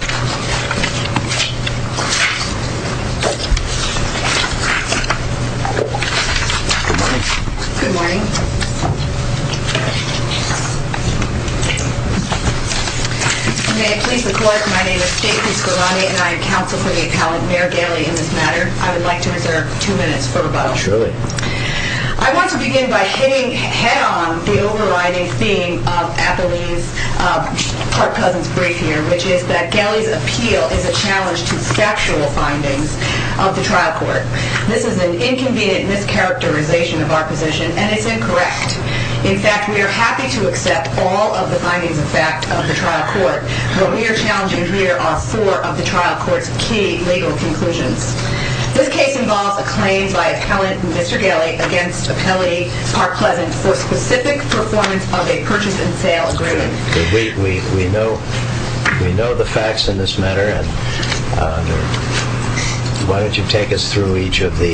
May I please report, my name is Stacey Scolani and I am counsel for the appellate Mayor Gelley in this matter. I would like to reserve two minutes for rebuttal. Surely. I want to begin by hitting head on the overriding theme of Appalachia's Park Pleasant's brief appeal is a challenge to factual findings of the trial court. This is an inconvenient mischaracterization of our position and it's incorrect. In fact, we are happy to accept all of the findings of fact of the trial court. What we are challenging here are four of the trial court's key legal conclusions. This case involves a claim by appellate Mr. Gelley against appellate Park Pleasant for specific performance of a purchase and sale agreement. We know the facts in this matter and why don't you take us through each of the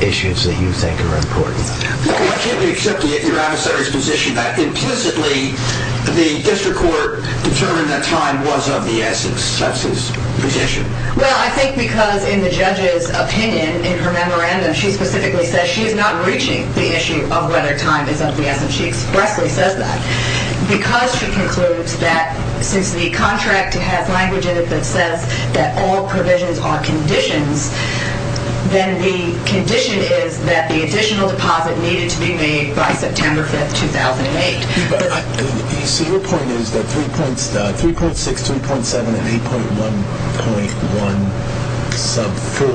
issues that you think are important. I can't accept your adversary's position that implicitly the district court determined that time was of the essence. That's his position. Well, I think because in the judge's opinion, in her memorandum, she specifically says she is not reaching the issue of whether time is of the essence. She expressly says that. Because she concludes that since the contract has language in it that says that all provisions are conditions, then the condition is that the additional deposit needed to be made by September 5th, 2008. So your point is that 3.6, 3.7, and 8.1.1 sub 4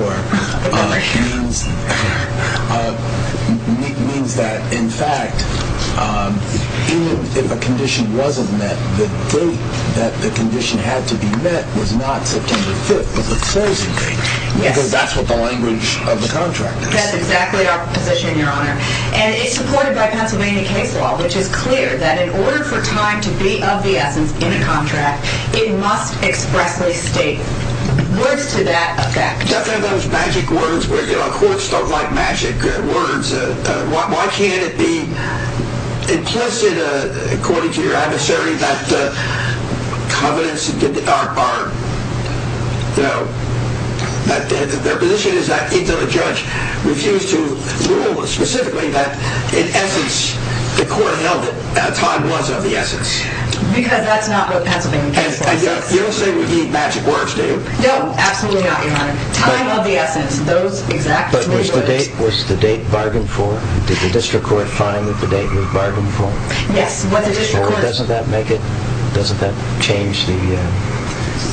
means that, in fact, in addition to the date that the condition was to be met, the date that the condition wasn't met, the date that the condition had to be met was not September 5th, but the closing date. Because that's what the language of the contract is. That's exactly our position, Your Honor. And it's supported by Pennsylvania case law, which is clear that in order for time to be of the essence in a contract, it must expressly state words to that effect. I mean, if you have to have those magic words where courts don't like magic words, why can't it be implicit, according to your adversary, that the covenants are, you know, that their position is that even the judge refused to rule specifically that, in essence, the court held that time was of the essence. Because that's not what Pennsylvania case law says. And you don't say we need magic words, do you? No. Absolutely not, Your Honor. Time of the essence. Those exact words. But was the date bargained for? Did the district court find that the date was bargained for? Yes. Doesn't that make it, doesn't that change the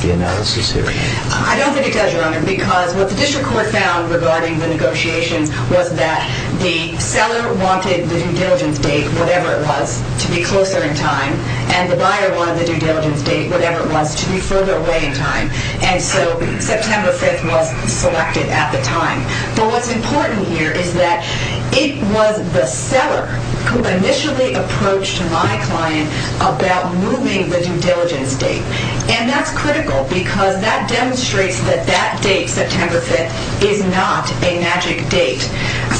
analysis here? I don't think it does, Your Honor, because what the district court found regarding the negotiations was that the seller wanted the due diligence date, whatever it was, to be closer in time, and the buyer wanted the due diligence date, whatever it was, to be further away in time. And so September 5th was selected at the time. But what's important here is that it was the seller who initially approached my client about moving the due diligence date. And that's critical, because that demonstrates that that date, September 5th, is not a magic date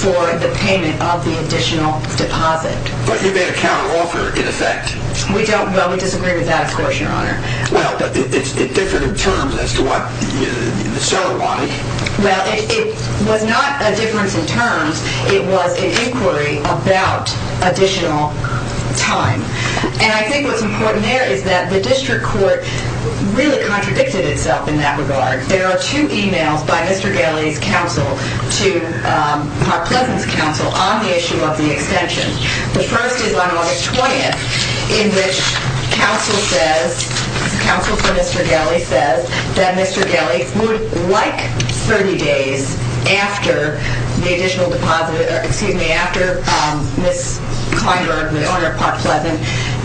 for the payment of the additional deposit. But you made a counteroffer, in effect. We don't, well, we disagree with that, of course, Your Honor. Well, but it's different in terms as to what the seller wanted. Well, it was not a difference in terms. It was an inquiry about additional time. And I think what's important there is that the district court really contradicted itself in that regard. There are two emails by Mr. Galley's counsel to Park Pleasant's counsel on the issue of the extension. The first is on August 20th, in which counsel says, counsel for Mr. Galley says, that Mr. Galley would like 30 days after the additional deposit, or excuse me, after Ms. Kleinberg, the owner of Park Pleasant,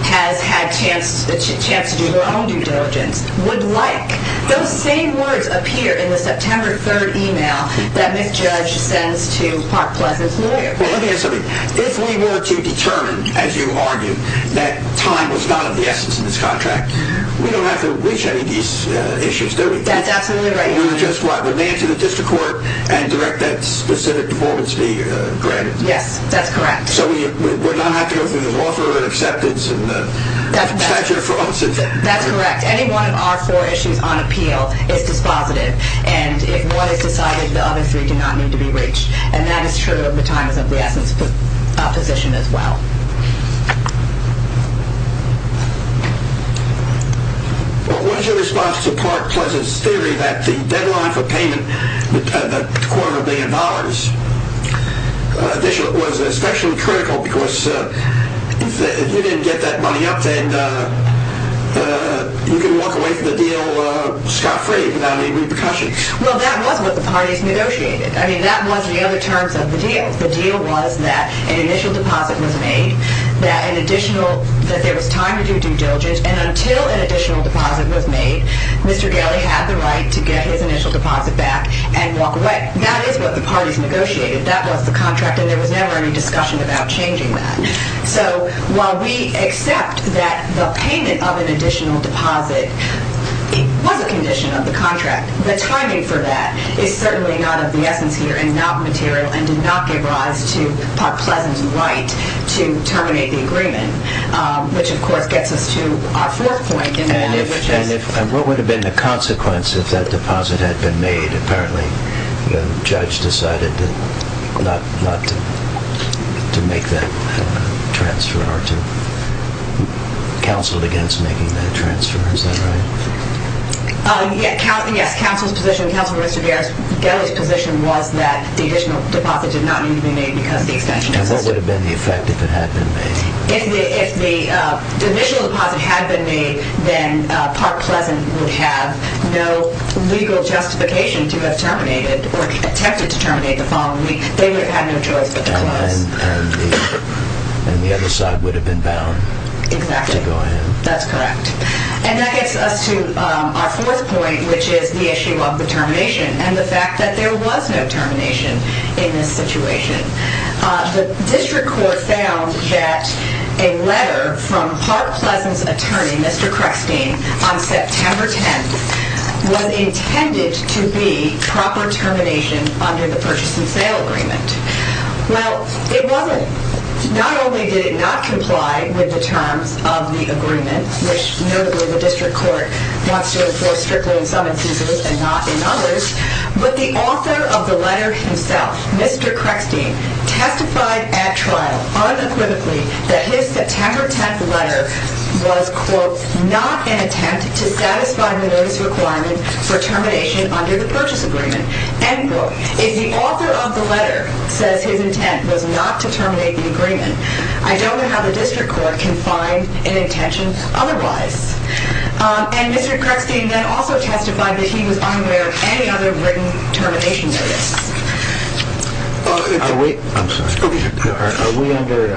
has had a chance to do her own due diligence, would like those same words appear in the September 3rd email that Ms. Judge sends to Park Pleasant's lawyer. Well, let me ask something. If we were to determine, as you argued, that time was not of the essence in this contract, we don't have to reach any of these issues, do we? That's absolutely right, Your Honor. We would just what? We would land to the district court and direct that specific performance to be granted? Yes, that's correct. So we would not have to go through this offer and acceptance and statute of frauds? That's correct. Any one of our four issues on appeal is dispositive. And if one is decided, the other three do not need to be reached. And that is true of the time is of the essence position as well. What is your response to Park Pleasant's theory that the deadline for payment, the quarter of a billion dollars, was especially critical because if you didn't get that money up, then you could walk away from the deal scot-free without any repercussions? Well, that was what the parties negotiated. I mean, that was the other terms of the deal. The deal was that an initial deposit was made, that there was time to do due diligence, and until an additional deposit was made, Mr. Galley had the right to get his initial deposit back and walk away. That is what the parties negotiated. That was the contract, and there was never any discussion about changing that. So while we accept that the payment of an additional deposit was a condition of the contract, the timing for that is certainly not of the essence here and not material and did not give rise to Park Pleasant's right to terminate the agreement, which of course gets us to our fourth point. And what would have been the consequence if that deposit had been made? Apparently, the judge decided not to make that transfer or to counsel against making that transfer. Is that right? Yes. Counsel's position, Counselor Mr. Galley's position was that the additional deposit did not need to be made because the extension existed. And what would have been the effect if it had been made? If the initial deposit had been made, then Park Pleasant would have no legal justification to have terminated or attempted to terminate the following week. They would have had no choice but to close. And the other side would have been bound to go ahead. Exactly. That's correct. And that gets us to our fourth point, which is the issue of the termination and the fact that there was no termination in this situation. The district court found that a letter from Park Pleasant's attorney, Mr. Creckstein, on September 10th was intended to be proper termination under the purchase and sale agreement. Well, it wasn't. Not only did it not comply with the terms of the agreement, which notably the district court wants to enforce strictly in some instances and not in others, but the author of the letter himself, Mr. Creckstein, testified at trial unequivocally that his September 10th letter was, quote, not an attempt to satisfy the notice requirement for termination under the purchase agreement, end quote. If the author of the letter says his intent was not to terminate the agreement, I don't know how the district court can find an intention otherwise. And Mr. Creckstein then also testified that he was unaware of any other written termination notice. Are we under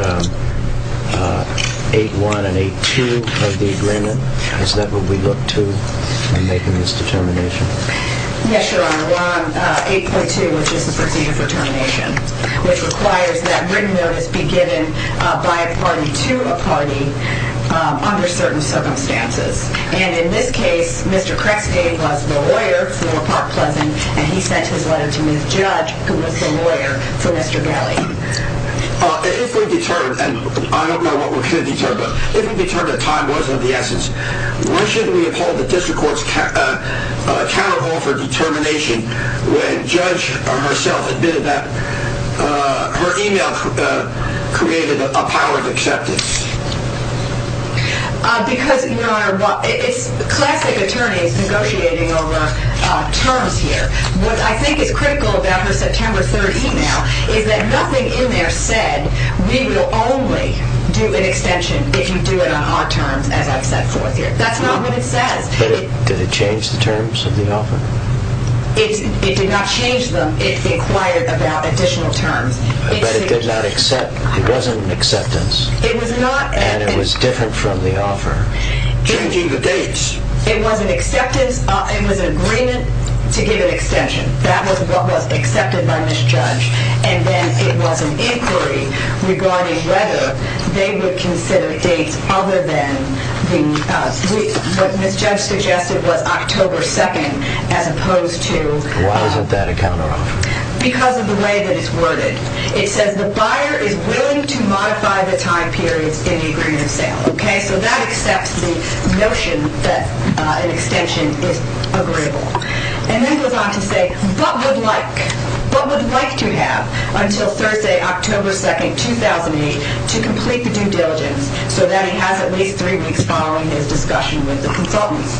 8.1 and 8.2 of the agreement? Is that what we look to in making this determination? Yes, Your Honor. 8.1, 8.2, which is the procedure for termination, which requires that written notice be given by a party to a party under certain circumstances. And in this case, Mr. Creckstein was the lawyer for Park Pleasant, and he sent his letter to Ms. Judge, who was the lawyer for Mr. Galley. If we determine, and I don't know what we're going to determine, but if we determine that the district courts cannot offer determination when Judge herself admitted that her email created a power of acceptance. Because, Your Honor, it's classic attorneys negotiating over terms here. What I think is critical about her September 13th email is that nothing in there said we will only do an extension if you do it on our terms, as I've set forth here. That's not what it says. But did it change the terms of the offer? It did not change them. It inquired about additional terms. But it did not accept. It wasn't an acceptance. It was not. And it was different from the offer. Changing the dates. It was an acceptance. It was an agreement to give an extension. That was what was accepted by Ms. Judge. And then it was an inquiry regarding whether they would consider dates other than what Ms. Judge suggested was October 2nd, as opposed to... Why wasn't that a counteroffer? Because of the way that it's worded. It says the buyer is willing to modify the time periods in the agreement of sale. Okay? So that accepts the notion that an extension is agreeable. And then it goes on to say, what would like to have until Thursday, October 2nd, 2008, to complete the due diligence, so that he has at least three weeks following his discussion with the consultants.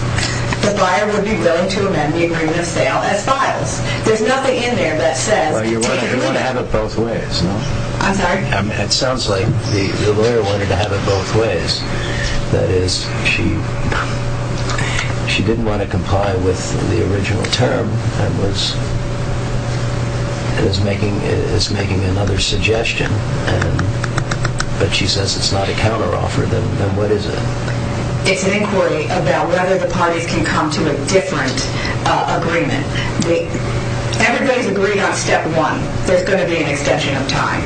The buyer would be willing to amend the agreement of sale as files. There's nothing in there that says... Well, you want to have it both ways, no? I'm sorry? It sounds like the lawyer wanted to have it both ways. That is, she didn't want to comply with the original term and is making another suggestion. But she says it's not a counteroffer. Then what is it? It's an inquiry about whether the parties can come to a different agreement. Everybody's agreed on step one, there's going to be an extension of time.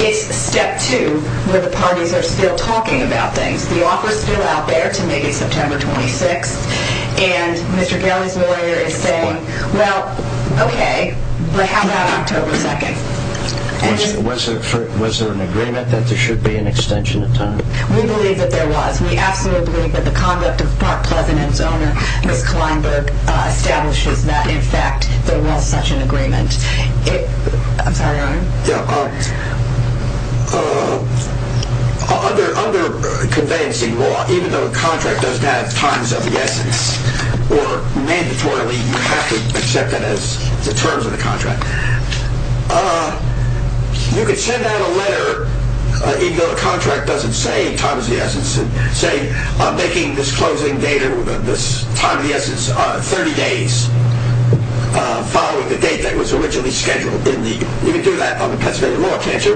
It's step two, where the parties are still talking about things. The offer's still out there to maybe September 26th. And Mr. Kelly's lawyer is saying, well, okay, but how about October 2nd? Was there an agreement that there should be an extension of time? We believe that there was. We absolutely believe that the conduct of Park Pleasant and its owner, Ms. Kleinberg, establishes that, in fact, there was such an agreement. I'm sorry, Your Honor? Under conveyancing law, even though the contract doesn't have times of the essence, or mandatorily you have to accept that as the terms of the contract, you could send out a letter even though the contract doesn't say times of the essence and say I'm making this closing date or this time of the essence 30 days following the date that was originally scheduled. You can do that under Pennsylvania law, can't you?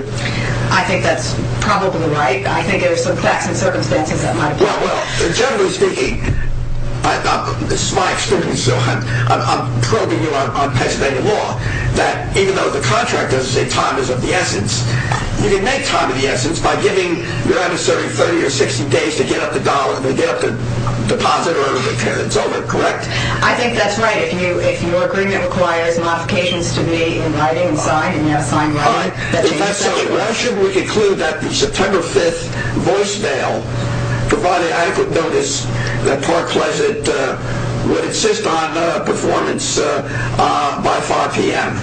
I think that's probably right. I think there are some facts and circumstances that might apply. Well, generally speaking, this is my experience, so I'm probing you on Pennsylvania law, that even though the contract doesn't say time is of the essence, you can make time of the essence by giving, Your Honor, serving 30 or 60 days to get up the dollar, to get up the deposit or whatever, until it's over, correct? I think that's right. If your agreement requires modifications to be in writing and signed, and you have signed writing, that's exactly right. Why should we conclude that the September 5th voicemail provided adequate notice that Park Pleasant would insist on performance by 5 p.m.?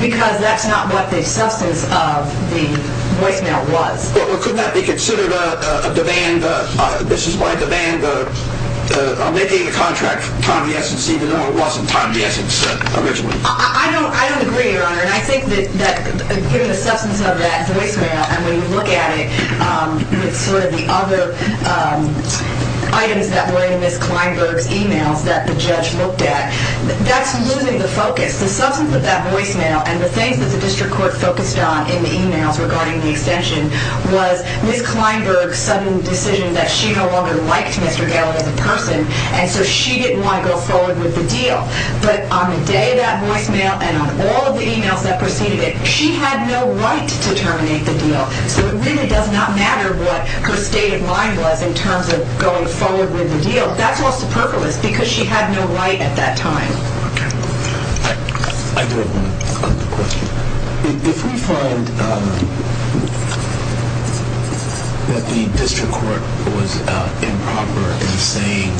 Because that's not what the substance of the voicemail was. Well, could that be considered a demand? This is my demand on making the contract time of the essence, even though it wasn't time of the essence originally. I don't agree, Your Honor, and I think that given the substance of that voicemail and when you look at it with sort of the other items that were in Ms. Kleinberg's emails that the judge looked at, that's losing the focus. The substance of that voicemail and the things that the district court focused on in the emails regarding the extension was Ms. Kleinberg's sudden decision that she no longer liked Mr. Gallagher as a person, and so she didn't want to go forward with the deal. But on the day of that voicemail and on all the emails that preceded it, she had no right to terminate the deal. So it really does not matter what her state of mind was in terms of going forward with the deal. That's all superfluous because she had no right at that time. Okay. I do have one other question. If we find that the district court was improper in saying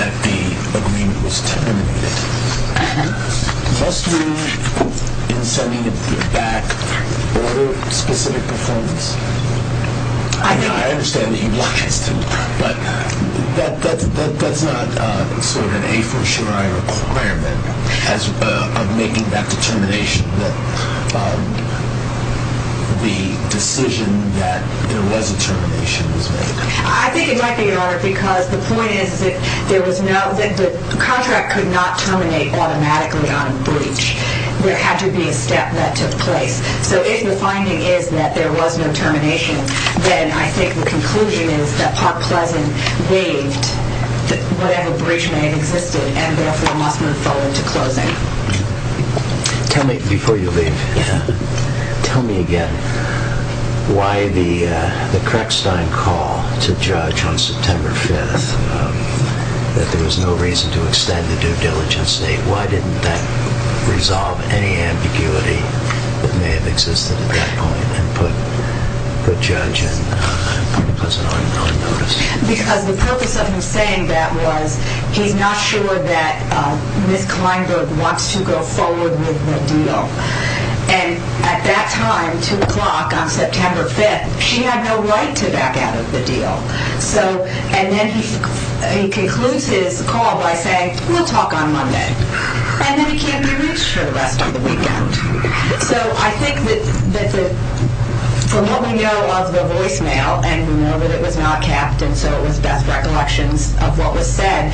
that the agreement was terminated, must we, in sending it back, order specific performance? I understand that you'd like us to, but that's not sort of an a-for-sure-I requirement of making that determination that the decision that there was a termination was made. I think it might be, Your Honor, because the point is that the contract could not terminate automatically on breach. There had to be a step that took place. So if the finding is that there was no termination, then I think the conclusion is that Park Pleasant waived whatever breach may have existed and therefore Mossman fell into closing. Tell me, before you leave, tell me again, why the crackstein call to judge on September 5th, that there was no reason to extend the due diligence date, why didn't that resolve any ambiguity that may have existed at that point and put the judge on notice? Because the purpose of him saying that was, he's not sure that Ms. Kleinberg wants to go forward with the deal. And at that time, 2 o'clock on September 5th, she had no right to back out of the deal. And then he concludes his call by saying, we'll talk on Monday. And then he can't be reached for the rest of the weekend. So I think that from what we know of the voicemail and we know that it was not capped and so it was best recollections of what was said,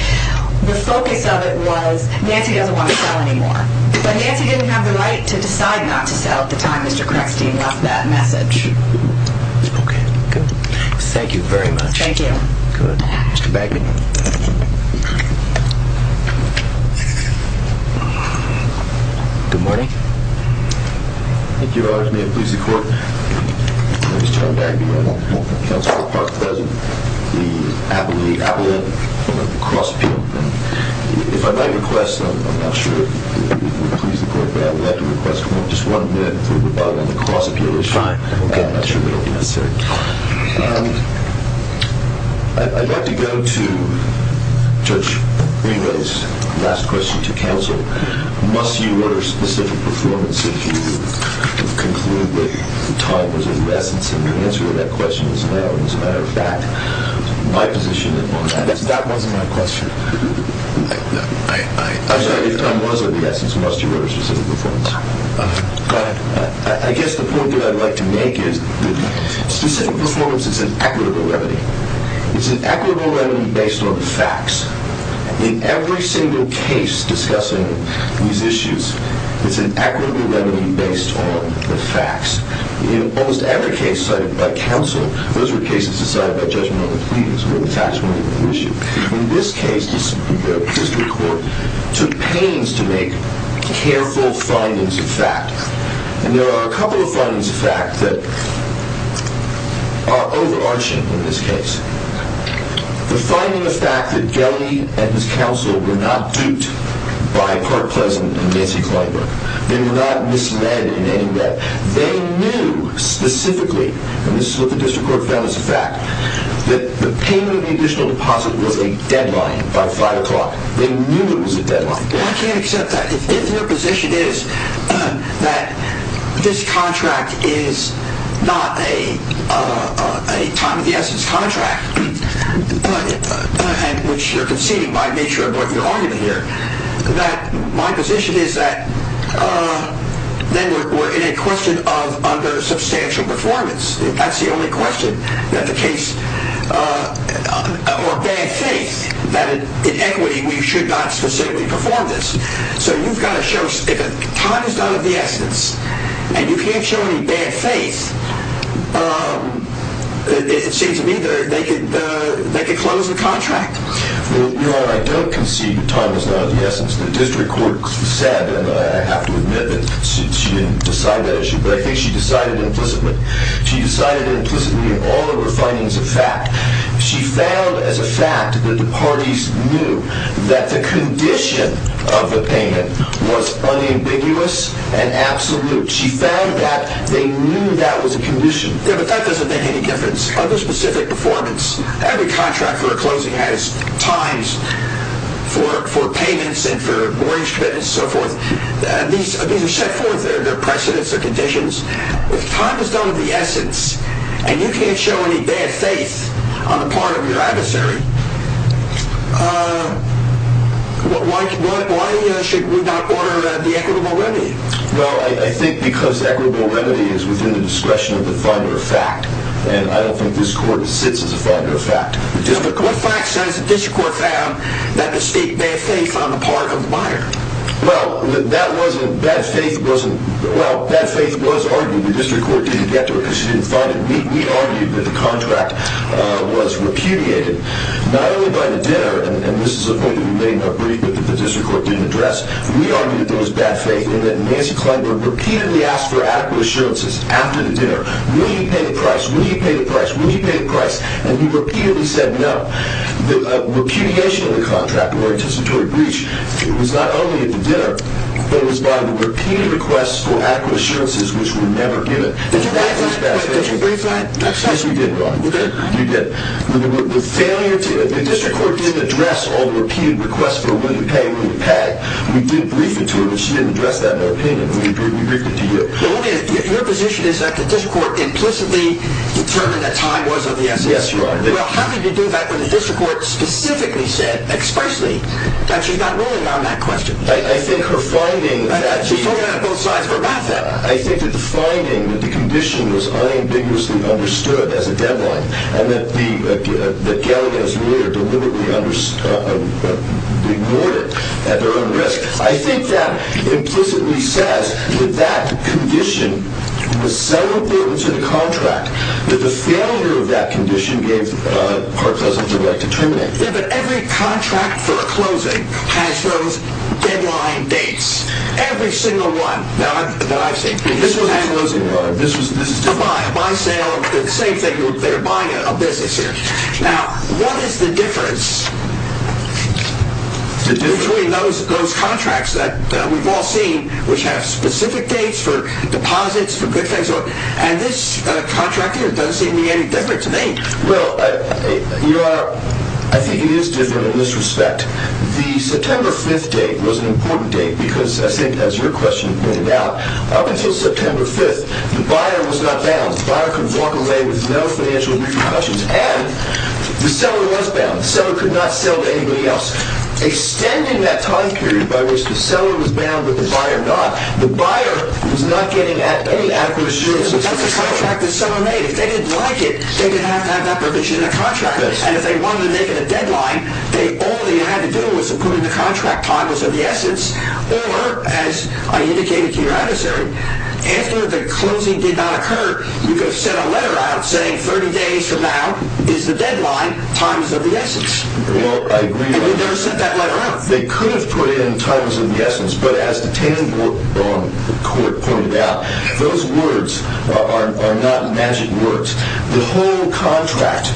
the focus of it was Nancy doesn't want to sell anymore. But Nancy didn't have the right to decide not to sell at the time Mr. Crackstein left that message. Okay, good. Thank you very much. Thank you. Good. Mr. Bagman. Good morning. Thank you, Your Honor. May it please the court. My name is John Bagman. I'm a counsel for the Park Cousin. The Appalachian cross appeal. If I may request, I'm not sure, if it would please the court, but I would like to request just one minute for rebuttal on the cross appeal issue. Fine. I'm not sure it would be necessary. I'd like to go to Judge Reno's last question to counsel. Must you order specific performance if you conclude that time was of the essence and the answer to that question is no. As a matter of fact, my position on that is... That wasn't my question. I'm sorry, if time was of the essence, must you order specific performance? Go ahead. I guess the point that I'd like to make is that specific performance is an equitable remedy. It's an equitable remedy based on the facts. In every single case discussing these issues, it's an equitable remedy based on the facts. In almost every case cited by counsel, those were cases decided by judgment on the pleadings where the facts weren't even an issue. In this case, the district court took pains to make careful findings of fact. And there are a couple of findings of fact that are overarching in this case. The finding of fact that Gelley and his counsel were not duped by Park Pleasant and Nancy Clyburn. They were not misled in any way. They knew specifically, and this is what the district court found as a fact, that the payment of the additional deposit was a deadline by 5 o'clock. They knew it was a deadline. I can't accept that. If your position is that this contract is not a time-of-the-essence contract, which you're conceding by nature of what you're arguing here, my position is that then we're in a question of under-substantial performance. That's the only question that the case, or bad faith, that in equity we should not specifically perform this. So you've got to show, if time is not of the essence and you can't show any bad faith, it seems to me they could close the contract. Your Honor, I don't concede that time is not of the essence. The district court said, and I have to admit that she didn't decide that issue, but I think she decided implicitly. She decided implicitly in all of her findings of fact. She found as a fact that the parties knew that the condition of the payment was unambiguous and absolute. She found that they knew that was a condition. Yeah, but that doesn't make any difference. Under specific performance, every contract for a closing has times for payments and for mortgage commitments and so forth. These are set forth, they're precedents, they're conditions. If time is not of the essence and you can't show any bad faith on the part of your adversary, why should we not order the equitable remedy? Well, I think because equitable remedy is within the discretion of the finder of fact, and I don't think this court sits as a finder of fact. What fact says the district court found that the state had bad faith on the part of the buyer? Well, that faith was argued. The district court didn't get to it because she didn't find it. We argued that the contract was repudiated. Not only by the dinner, and this is a point that we may not brief, but that the district court didn't address, we argued that there was bad faith in that Nancy Klineberg repeatedly asked for adequate assurances after the dinner. Will you pay the price? Will you pay the price? Will you pay the price? And he repeatedly said no. The repudiation of the contract, the mortgagatory breach, it was not only at the dinner, but it was by the repeated requests for adequate assurances which were never given. Did you brief that? Yes, we did, Ron. We did? We did. The failure to... The district court didn't address all the repeated requests for will you pay, will you pay. We did brief it to her, but she didn't address that in her opinion. We briefed it to you. Your position is that the district court implicitly determined that time was of the essence. Yes, Ron. Well, how did you do that when the district court specifically said, expressly, that she's not ruling on that question? I think her finding... She's talking about both sides of her mouth. I think that the finding, that the condition was unambiguously understood as a deadline, and that Galileo's lawyer deliberately ignored it at their own risk. I think that implicitly says that that condition was so important to the contract that the failure of that condition gave Hart-Cousins the right to terminate. Yeah, but every contract for a closing has those deadline dates. Every single one. Now, I've seen... This was a closing, Ron. This was... My sale, the same thing, they were buying a business here. Now, what is the difference between those contracts that we've all seen, which have specific dates for deposits, for good things, and this contract here doesn't seem to be any different to me. Well, Your Honor, I think it is different in this respect. The September 5th date was an important date because, I think, as your question pointed out, up until September 5th, the buyer was not bound. The buyer could walk away with no financial repercussions. And the seller was bound. The seller could not sell to anybody else. Extending that time period by which the seller was bound but the buyer not, the buyer was not getting any adequate assurance. That's the contract the seller made. If they didn't like it, they didn't have to have that permission in the contract. And if they wanted to make it a deadline, all they had to do was put in the contract. Time was of the essence. Or, as I indicated to your adversary, after the closing did not occur, you could have sent a letter out saying 30 days from now is the deadline. Time is of the essence. Well, I agree with that. And they never sent that letter out. They could have put in time is of the essence. But as the Taneyborg Court pointed out, those words are not magic words. The whole contract,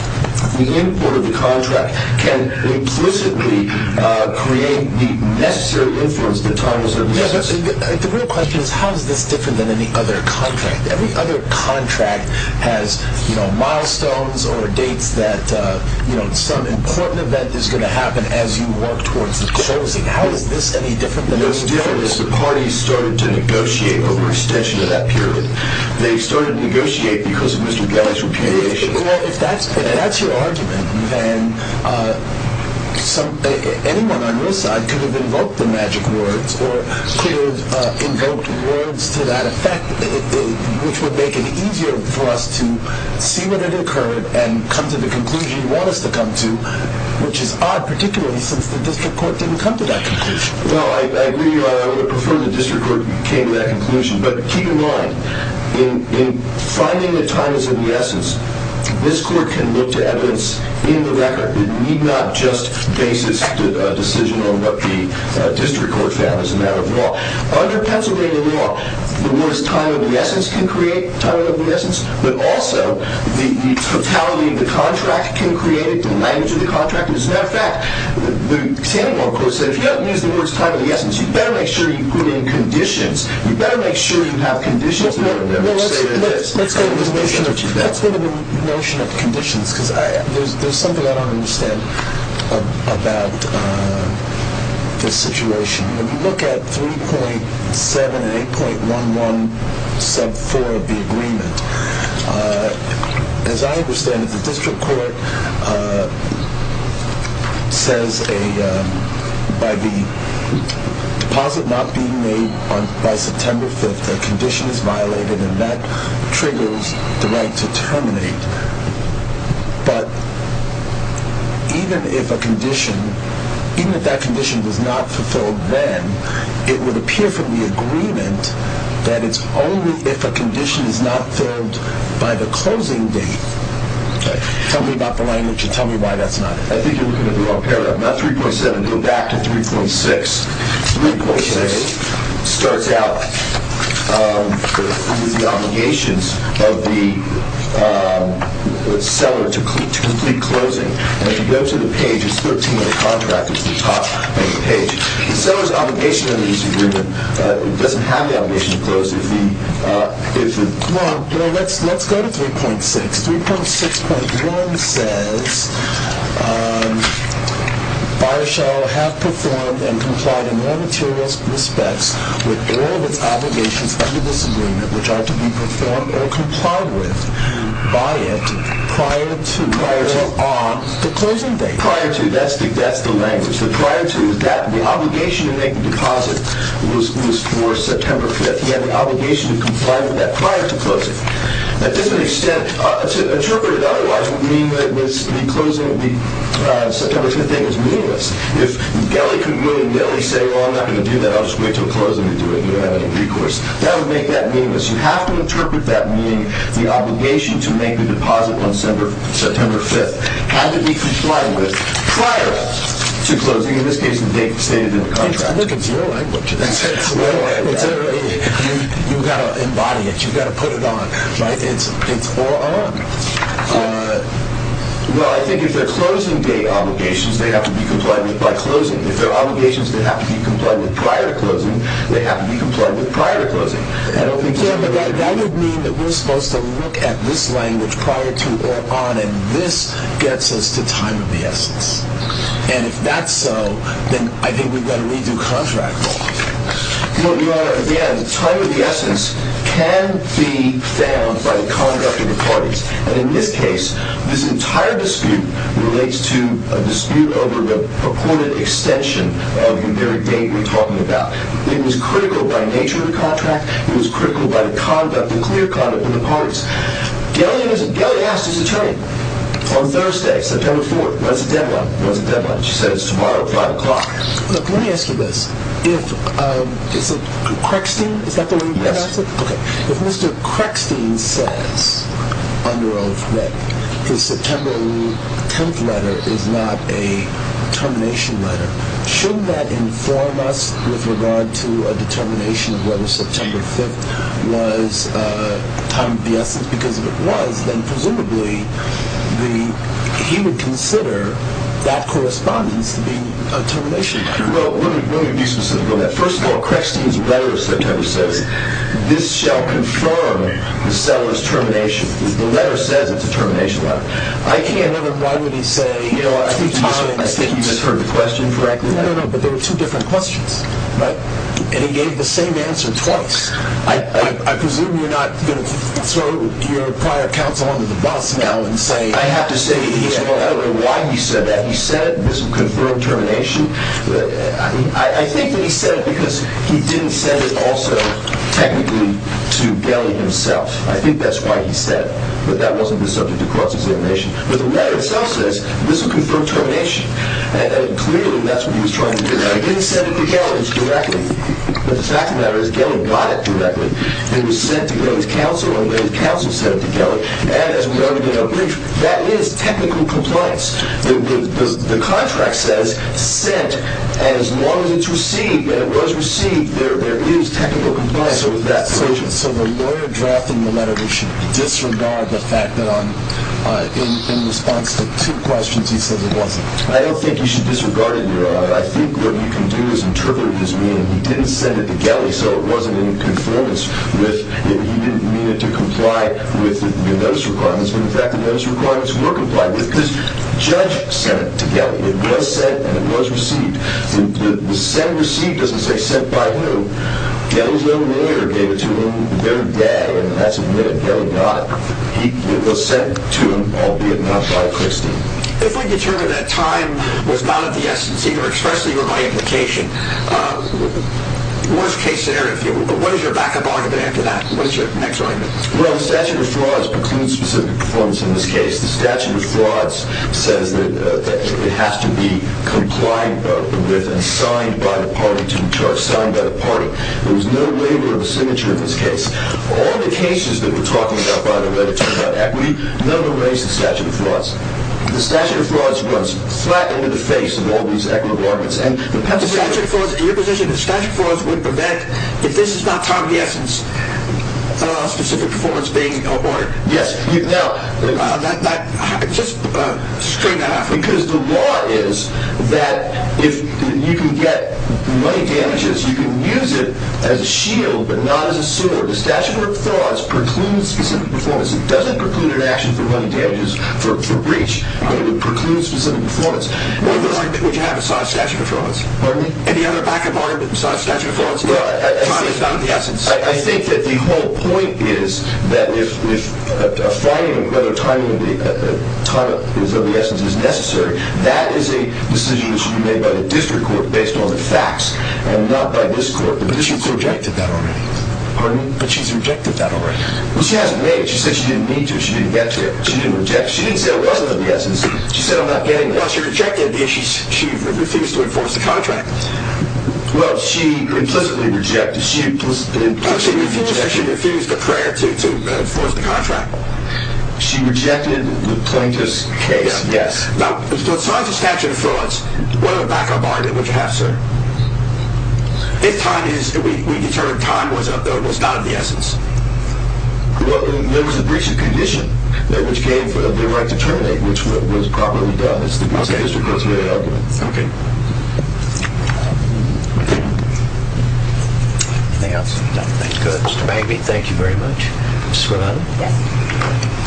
the import of the contract, can implicitly create the necessary influence that time is of the essence. The real question is how is this different than any other contract? Every other contract has milestones or dates that some important event is going to happen as you work towards the closing. How is this any different than any other contract? The most different is the parties started to negotiate over extension of that period. They started to negotiate because of Mr. Galli's repudiation. Well, if that's your argument, then anyone on your side could have invoked the magic words or could have invoked words to that effect, which would make it easier for us to see what had occurred and come to the conclusion you want us to come to, which is odd, particularly since the district court didn't come to that conclusion. Well, I agree with you. I would have preferred the district court came to that conclusion. But keep in mind, in finding that time is of the essence, this court can look to evidence in the record that need not just base its decision on what the district court found as a matter of law. Under Pennsylvania law, the words time is of the essence can create time is of the essence, but also the totality of the contract can create it, the language of the contract. As a matter of fact, the standing law court said if you don't use the words time is of the essence, you better make sure you put in conditions. You better make sure you have conditions. Let's go to the notion of conditions because there's something I don't understand about this situation. We look at 3.7 and 8.11 sub 4 of the agreement. As I understand it, the district court says by the deposit not being made by September 5th, the condition is violated and that triggers the right to terminate. But even if a condition, even if that condition is not fulfilled then, it would appear from the agreement that it's only if a condition is not filled by the closing date. Tell me about the language and tell me why that's not it. I think you're looking at the wrong paragraph. Not 3.7. Go back to 3.6. 3.6 starts out with the obligations of the seller to complete closing. If you go to the page, it's 13 of the contract which is the top of the page. The seller's obligation under this agreement doesn't have the obligation to close if the... Let's go to 3.6. 3.6.1 says, buyer shall have performed and complied in all materials and respects with all of its obligations under this agreement which are to be performed or complied with by it prior to on the closing date. Prior to. That's the language. The prior to is that the obligation to make the deposit was for September 5th. He had the obligation to comply with that prior to closing. At this extent, to interpret it otherwise would mean that it was the closing of the September 5th date was meaningless. If Gelly could really say, well, I'm not going to do that. I'll just wait until closing to do it. You don't have any recourse. That would make that meaningless. You have to interpret that meaning the obligation to make the deposit on September 5th had to be complied with prior to closing. In this case, the date stated in the contract. It's your language. You've got to embody it. You've got to put it on. Right? It's or on. Well, I think if they're closing date obligations, they have to be complied with by closing. If they're obligations that have to be complied with prior to closing, they have to be complied with prior to closing. That would mean that we're supposed to look at this language prior to or on and this gets us to time of the essence. And if that's so, then I think we've got to redo contract law. Your Honor, again, time of the essence can be found by the conduct of the parties. And in this case, this entire dispute relates to a dispute over the purported extension of your very date we're talking about. It was critical by nature of the contract. It was critical by the conduct, the clear conduct of the parties. Gelli asked his attorney on Thursday, September 4th, what's the deadline? What's the deadline? She said it's tomorrow at 5 o'clock. Look, let me ask you this. If, um, is it Creckstein? Is that the one you asked? Yes. Okay. If Mr. Creckstein says under oath that his September 10th letter is not a termination letter, shouldn't that inform us with regard to a determination of whether September 5th was time of the essence? Because if it was, then presumably he would consider that correspondence to be a termination letter. Well, let me be specific on that. First of all, Creckstein's letter of September says this shall confirm the seller's termination because the letter says it's a termination letter. I can't remember why would he say two times. I think you just heard the question correctly. No, no, no. But there were two different questions, right? And he gave the same answer twice. I presume you're not going to throw your prior counsel under the bus now and say... I have to say I don't know why he said that. He said this will confirm termination. I think that he said it because he didn't send it also technically to Gelley himself. I think that's why he said it. But that wasn't the subject across his indication. But the letter itself says this will confirm termination. And clearly that's what he was trying to do. Now, he didn't send it to Gelley directly. But the fact of the matter is Gelley got it directly. It was sent to Gelley's counsel and Gelley's counsel sent it to Gelley. And as we already did in our brief, that is technical compliance. The contract says sent and as long as it's received and it was received, there is technical compliance over that subject. So the lawyer drafting the letter should disregard the fact that in response to two questions he said it wasn't. I don't think you should disregard it, Your Honor. I think what you can do is interpret his meaning. He didn't send it to Gelley so it wasn't in conformance with... he didn't mean it to comply with the notice requirements but in fact the notice requirements were complied with because Judge sent it to Gelley. It was sent and it was received. The sent and received doesn't say sent by whom. Gelley's own lawyer gave it to him the very day and that's when Gelley got it. It was sent to him, albeit not by Christie. If we determine that time was not of the essence, either expressly or by implication, worst case scenario, what is your backup argument after that? What is your next argument? Well, the statute of frauds precludes specific performance in this case. The statute of frauds says that it has to be complied with and signed by the party to be charged, signed by the party. There was no waiver of the signature in this case. All the cases that we're talking about, by the way, that talk about equity, none of them raise the statute of frauds. The statute of frauds runs flat into the face of all these equity requirements and the... The statute of frauds, in your position, the statute of frauds would prevent if this is not time of the essence specific performance being... Yes. Now, just straightened that out for me. Because the law is that if you can get money damages, you can use it as a shield but not as a sword. The statute of frauds precludes specific performance. It doesn't preclude an action for money damages, for breach, but it precludes specific performance. What would you have besides statute of frauds? Pardon me? Any other backup argument besides statute of frauds that time is not of the essence? I think that the whole point is that if a finding of whether time of the essence is necessary, that is a decision that should be made by the district court based on the facts and not by this court. But she's rejected that already. Pardon me? But she's rejected that already. Well, she hasn't made it. She said she didn't need to. She didn't get to it. She didn't reject it. She didn't say it wasn't of the essence. She said, I'm not getting it. Well, she rejected it because she refused to enforce the contract. Well, she implicitly rejected it. She refused the prior to enforce the contract. She rejected the plaintiff's case. Yes. Now, besides the statute of frauds, what other backup argument would you have, sir? If time is, we determined time was of the, was not of the essence. Well, there was a breach of condition which was probably done. It's the district court's way of doing it. Okay. Okay. Okay. Okay. Okay. Okay. Okay. Okay. Anything else? Nothing. Good. Mr. Mabee, thank you very much. Ms. Scrivano? Yes.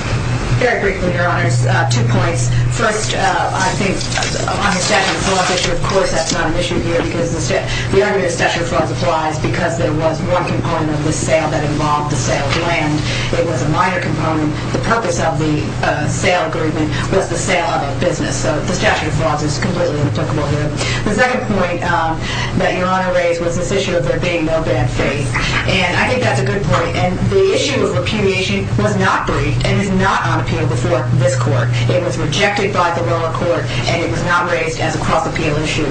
Very briefly, your honors. Two points. First, I think on the statute of frauds issue, of course, that's not an issue here because the argument of statute of frauds applies because there was one component of the sale that involved the sale of land. It was a minor component. The purpose of the sale agreement was the sale of a business. So the statute of frauds is completely out of the question here. The second point that your honor raised was this issue of there being no bad faith. And I think that's a good point. And the issue of repudiation was not briefed and is not on appeal before this court. It was rejected by the lower court and it was not raised as a cross-appeal issue.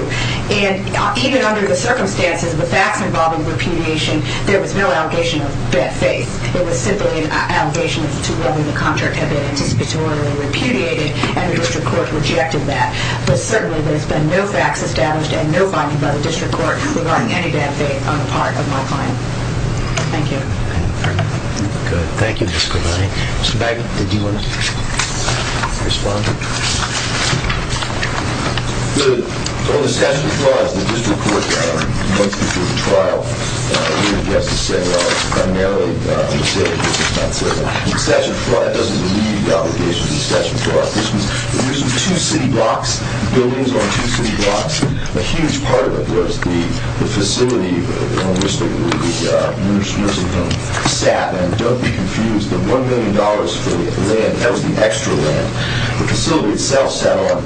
And even under the circumstances of the facts involving repudiation, there was no allegation of bad faith. It was simply an allegation to whether the contract had been anticipatorily repudiated and the district court rejected that. But certainly there's been no facts established and no finding by the district court regarding any bad faith on the part of my client. Thank you. Good. Thank you, District Attorney. Mr. Baggett, did you want to respond? Good. On the statute of frauds, the district court points me to a trial where the justice said primarily that the district court did not believe the obligations of the statute of frauds. This was two city blocks, buildings on two city blocks, and a huge part of it was the facility on which the nursing home sat. And don't be confused, the $1 million for the land, that was the extra land. The facility itself sat on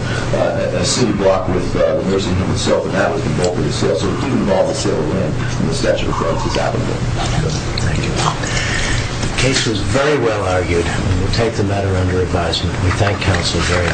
a city block with the nursing home itself, and that was the bulk of the sale, so it didn't involve the sale of land in the statute of frauds as happened there. Good. Thank you. The case is very well argued. We take the matter under advisement. We thank counsel very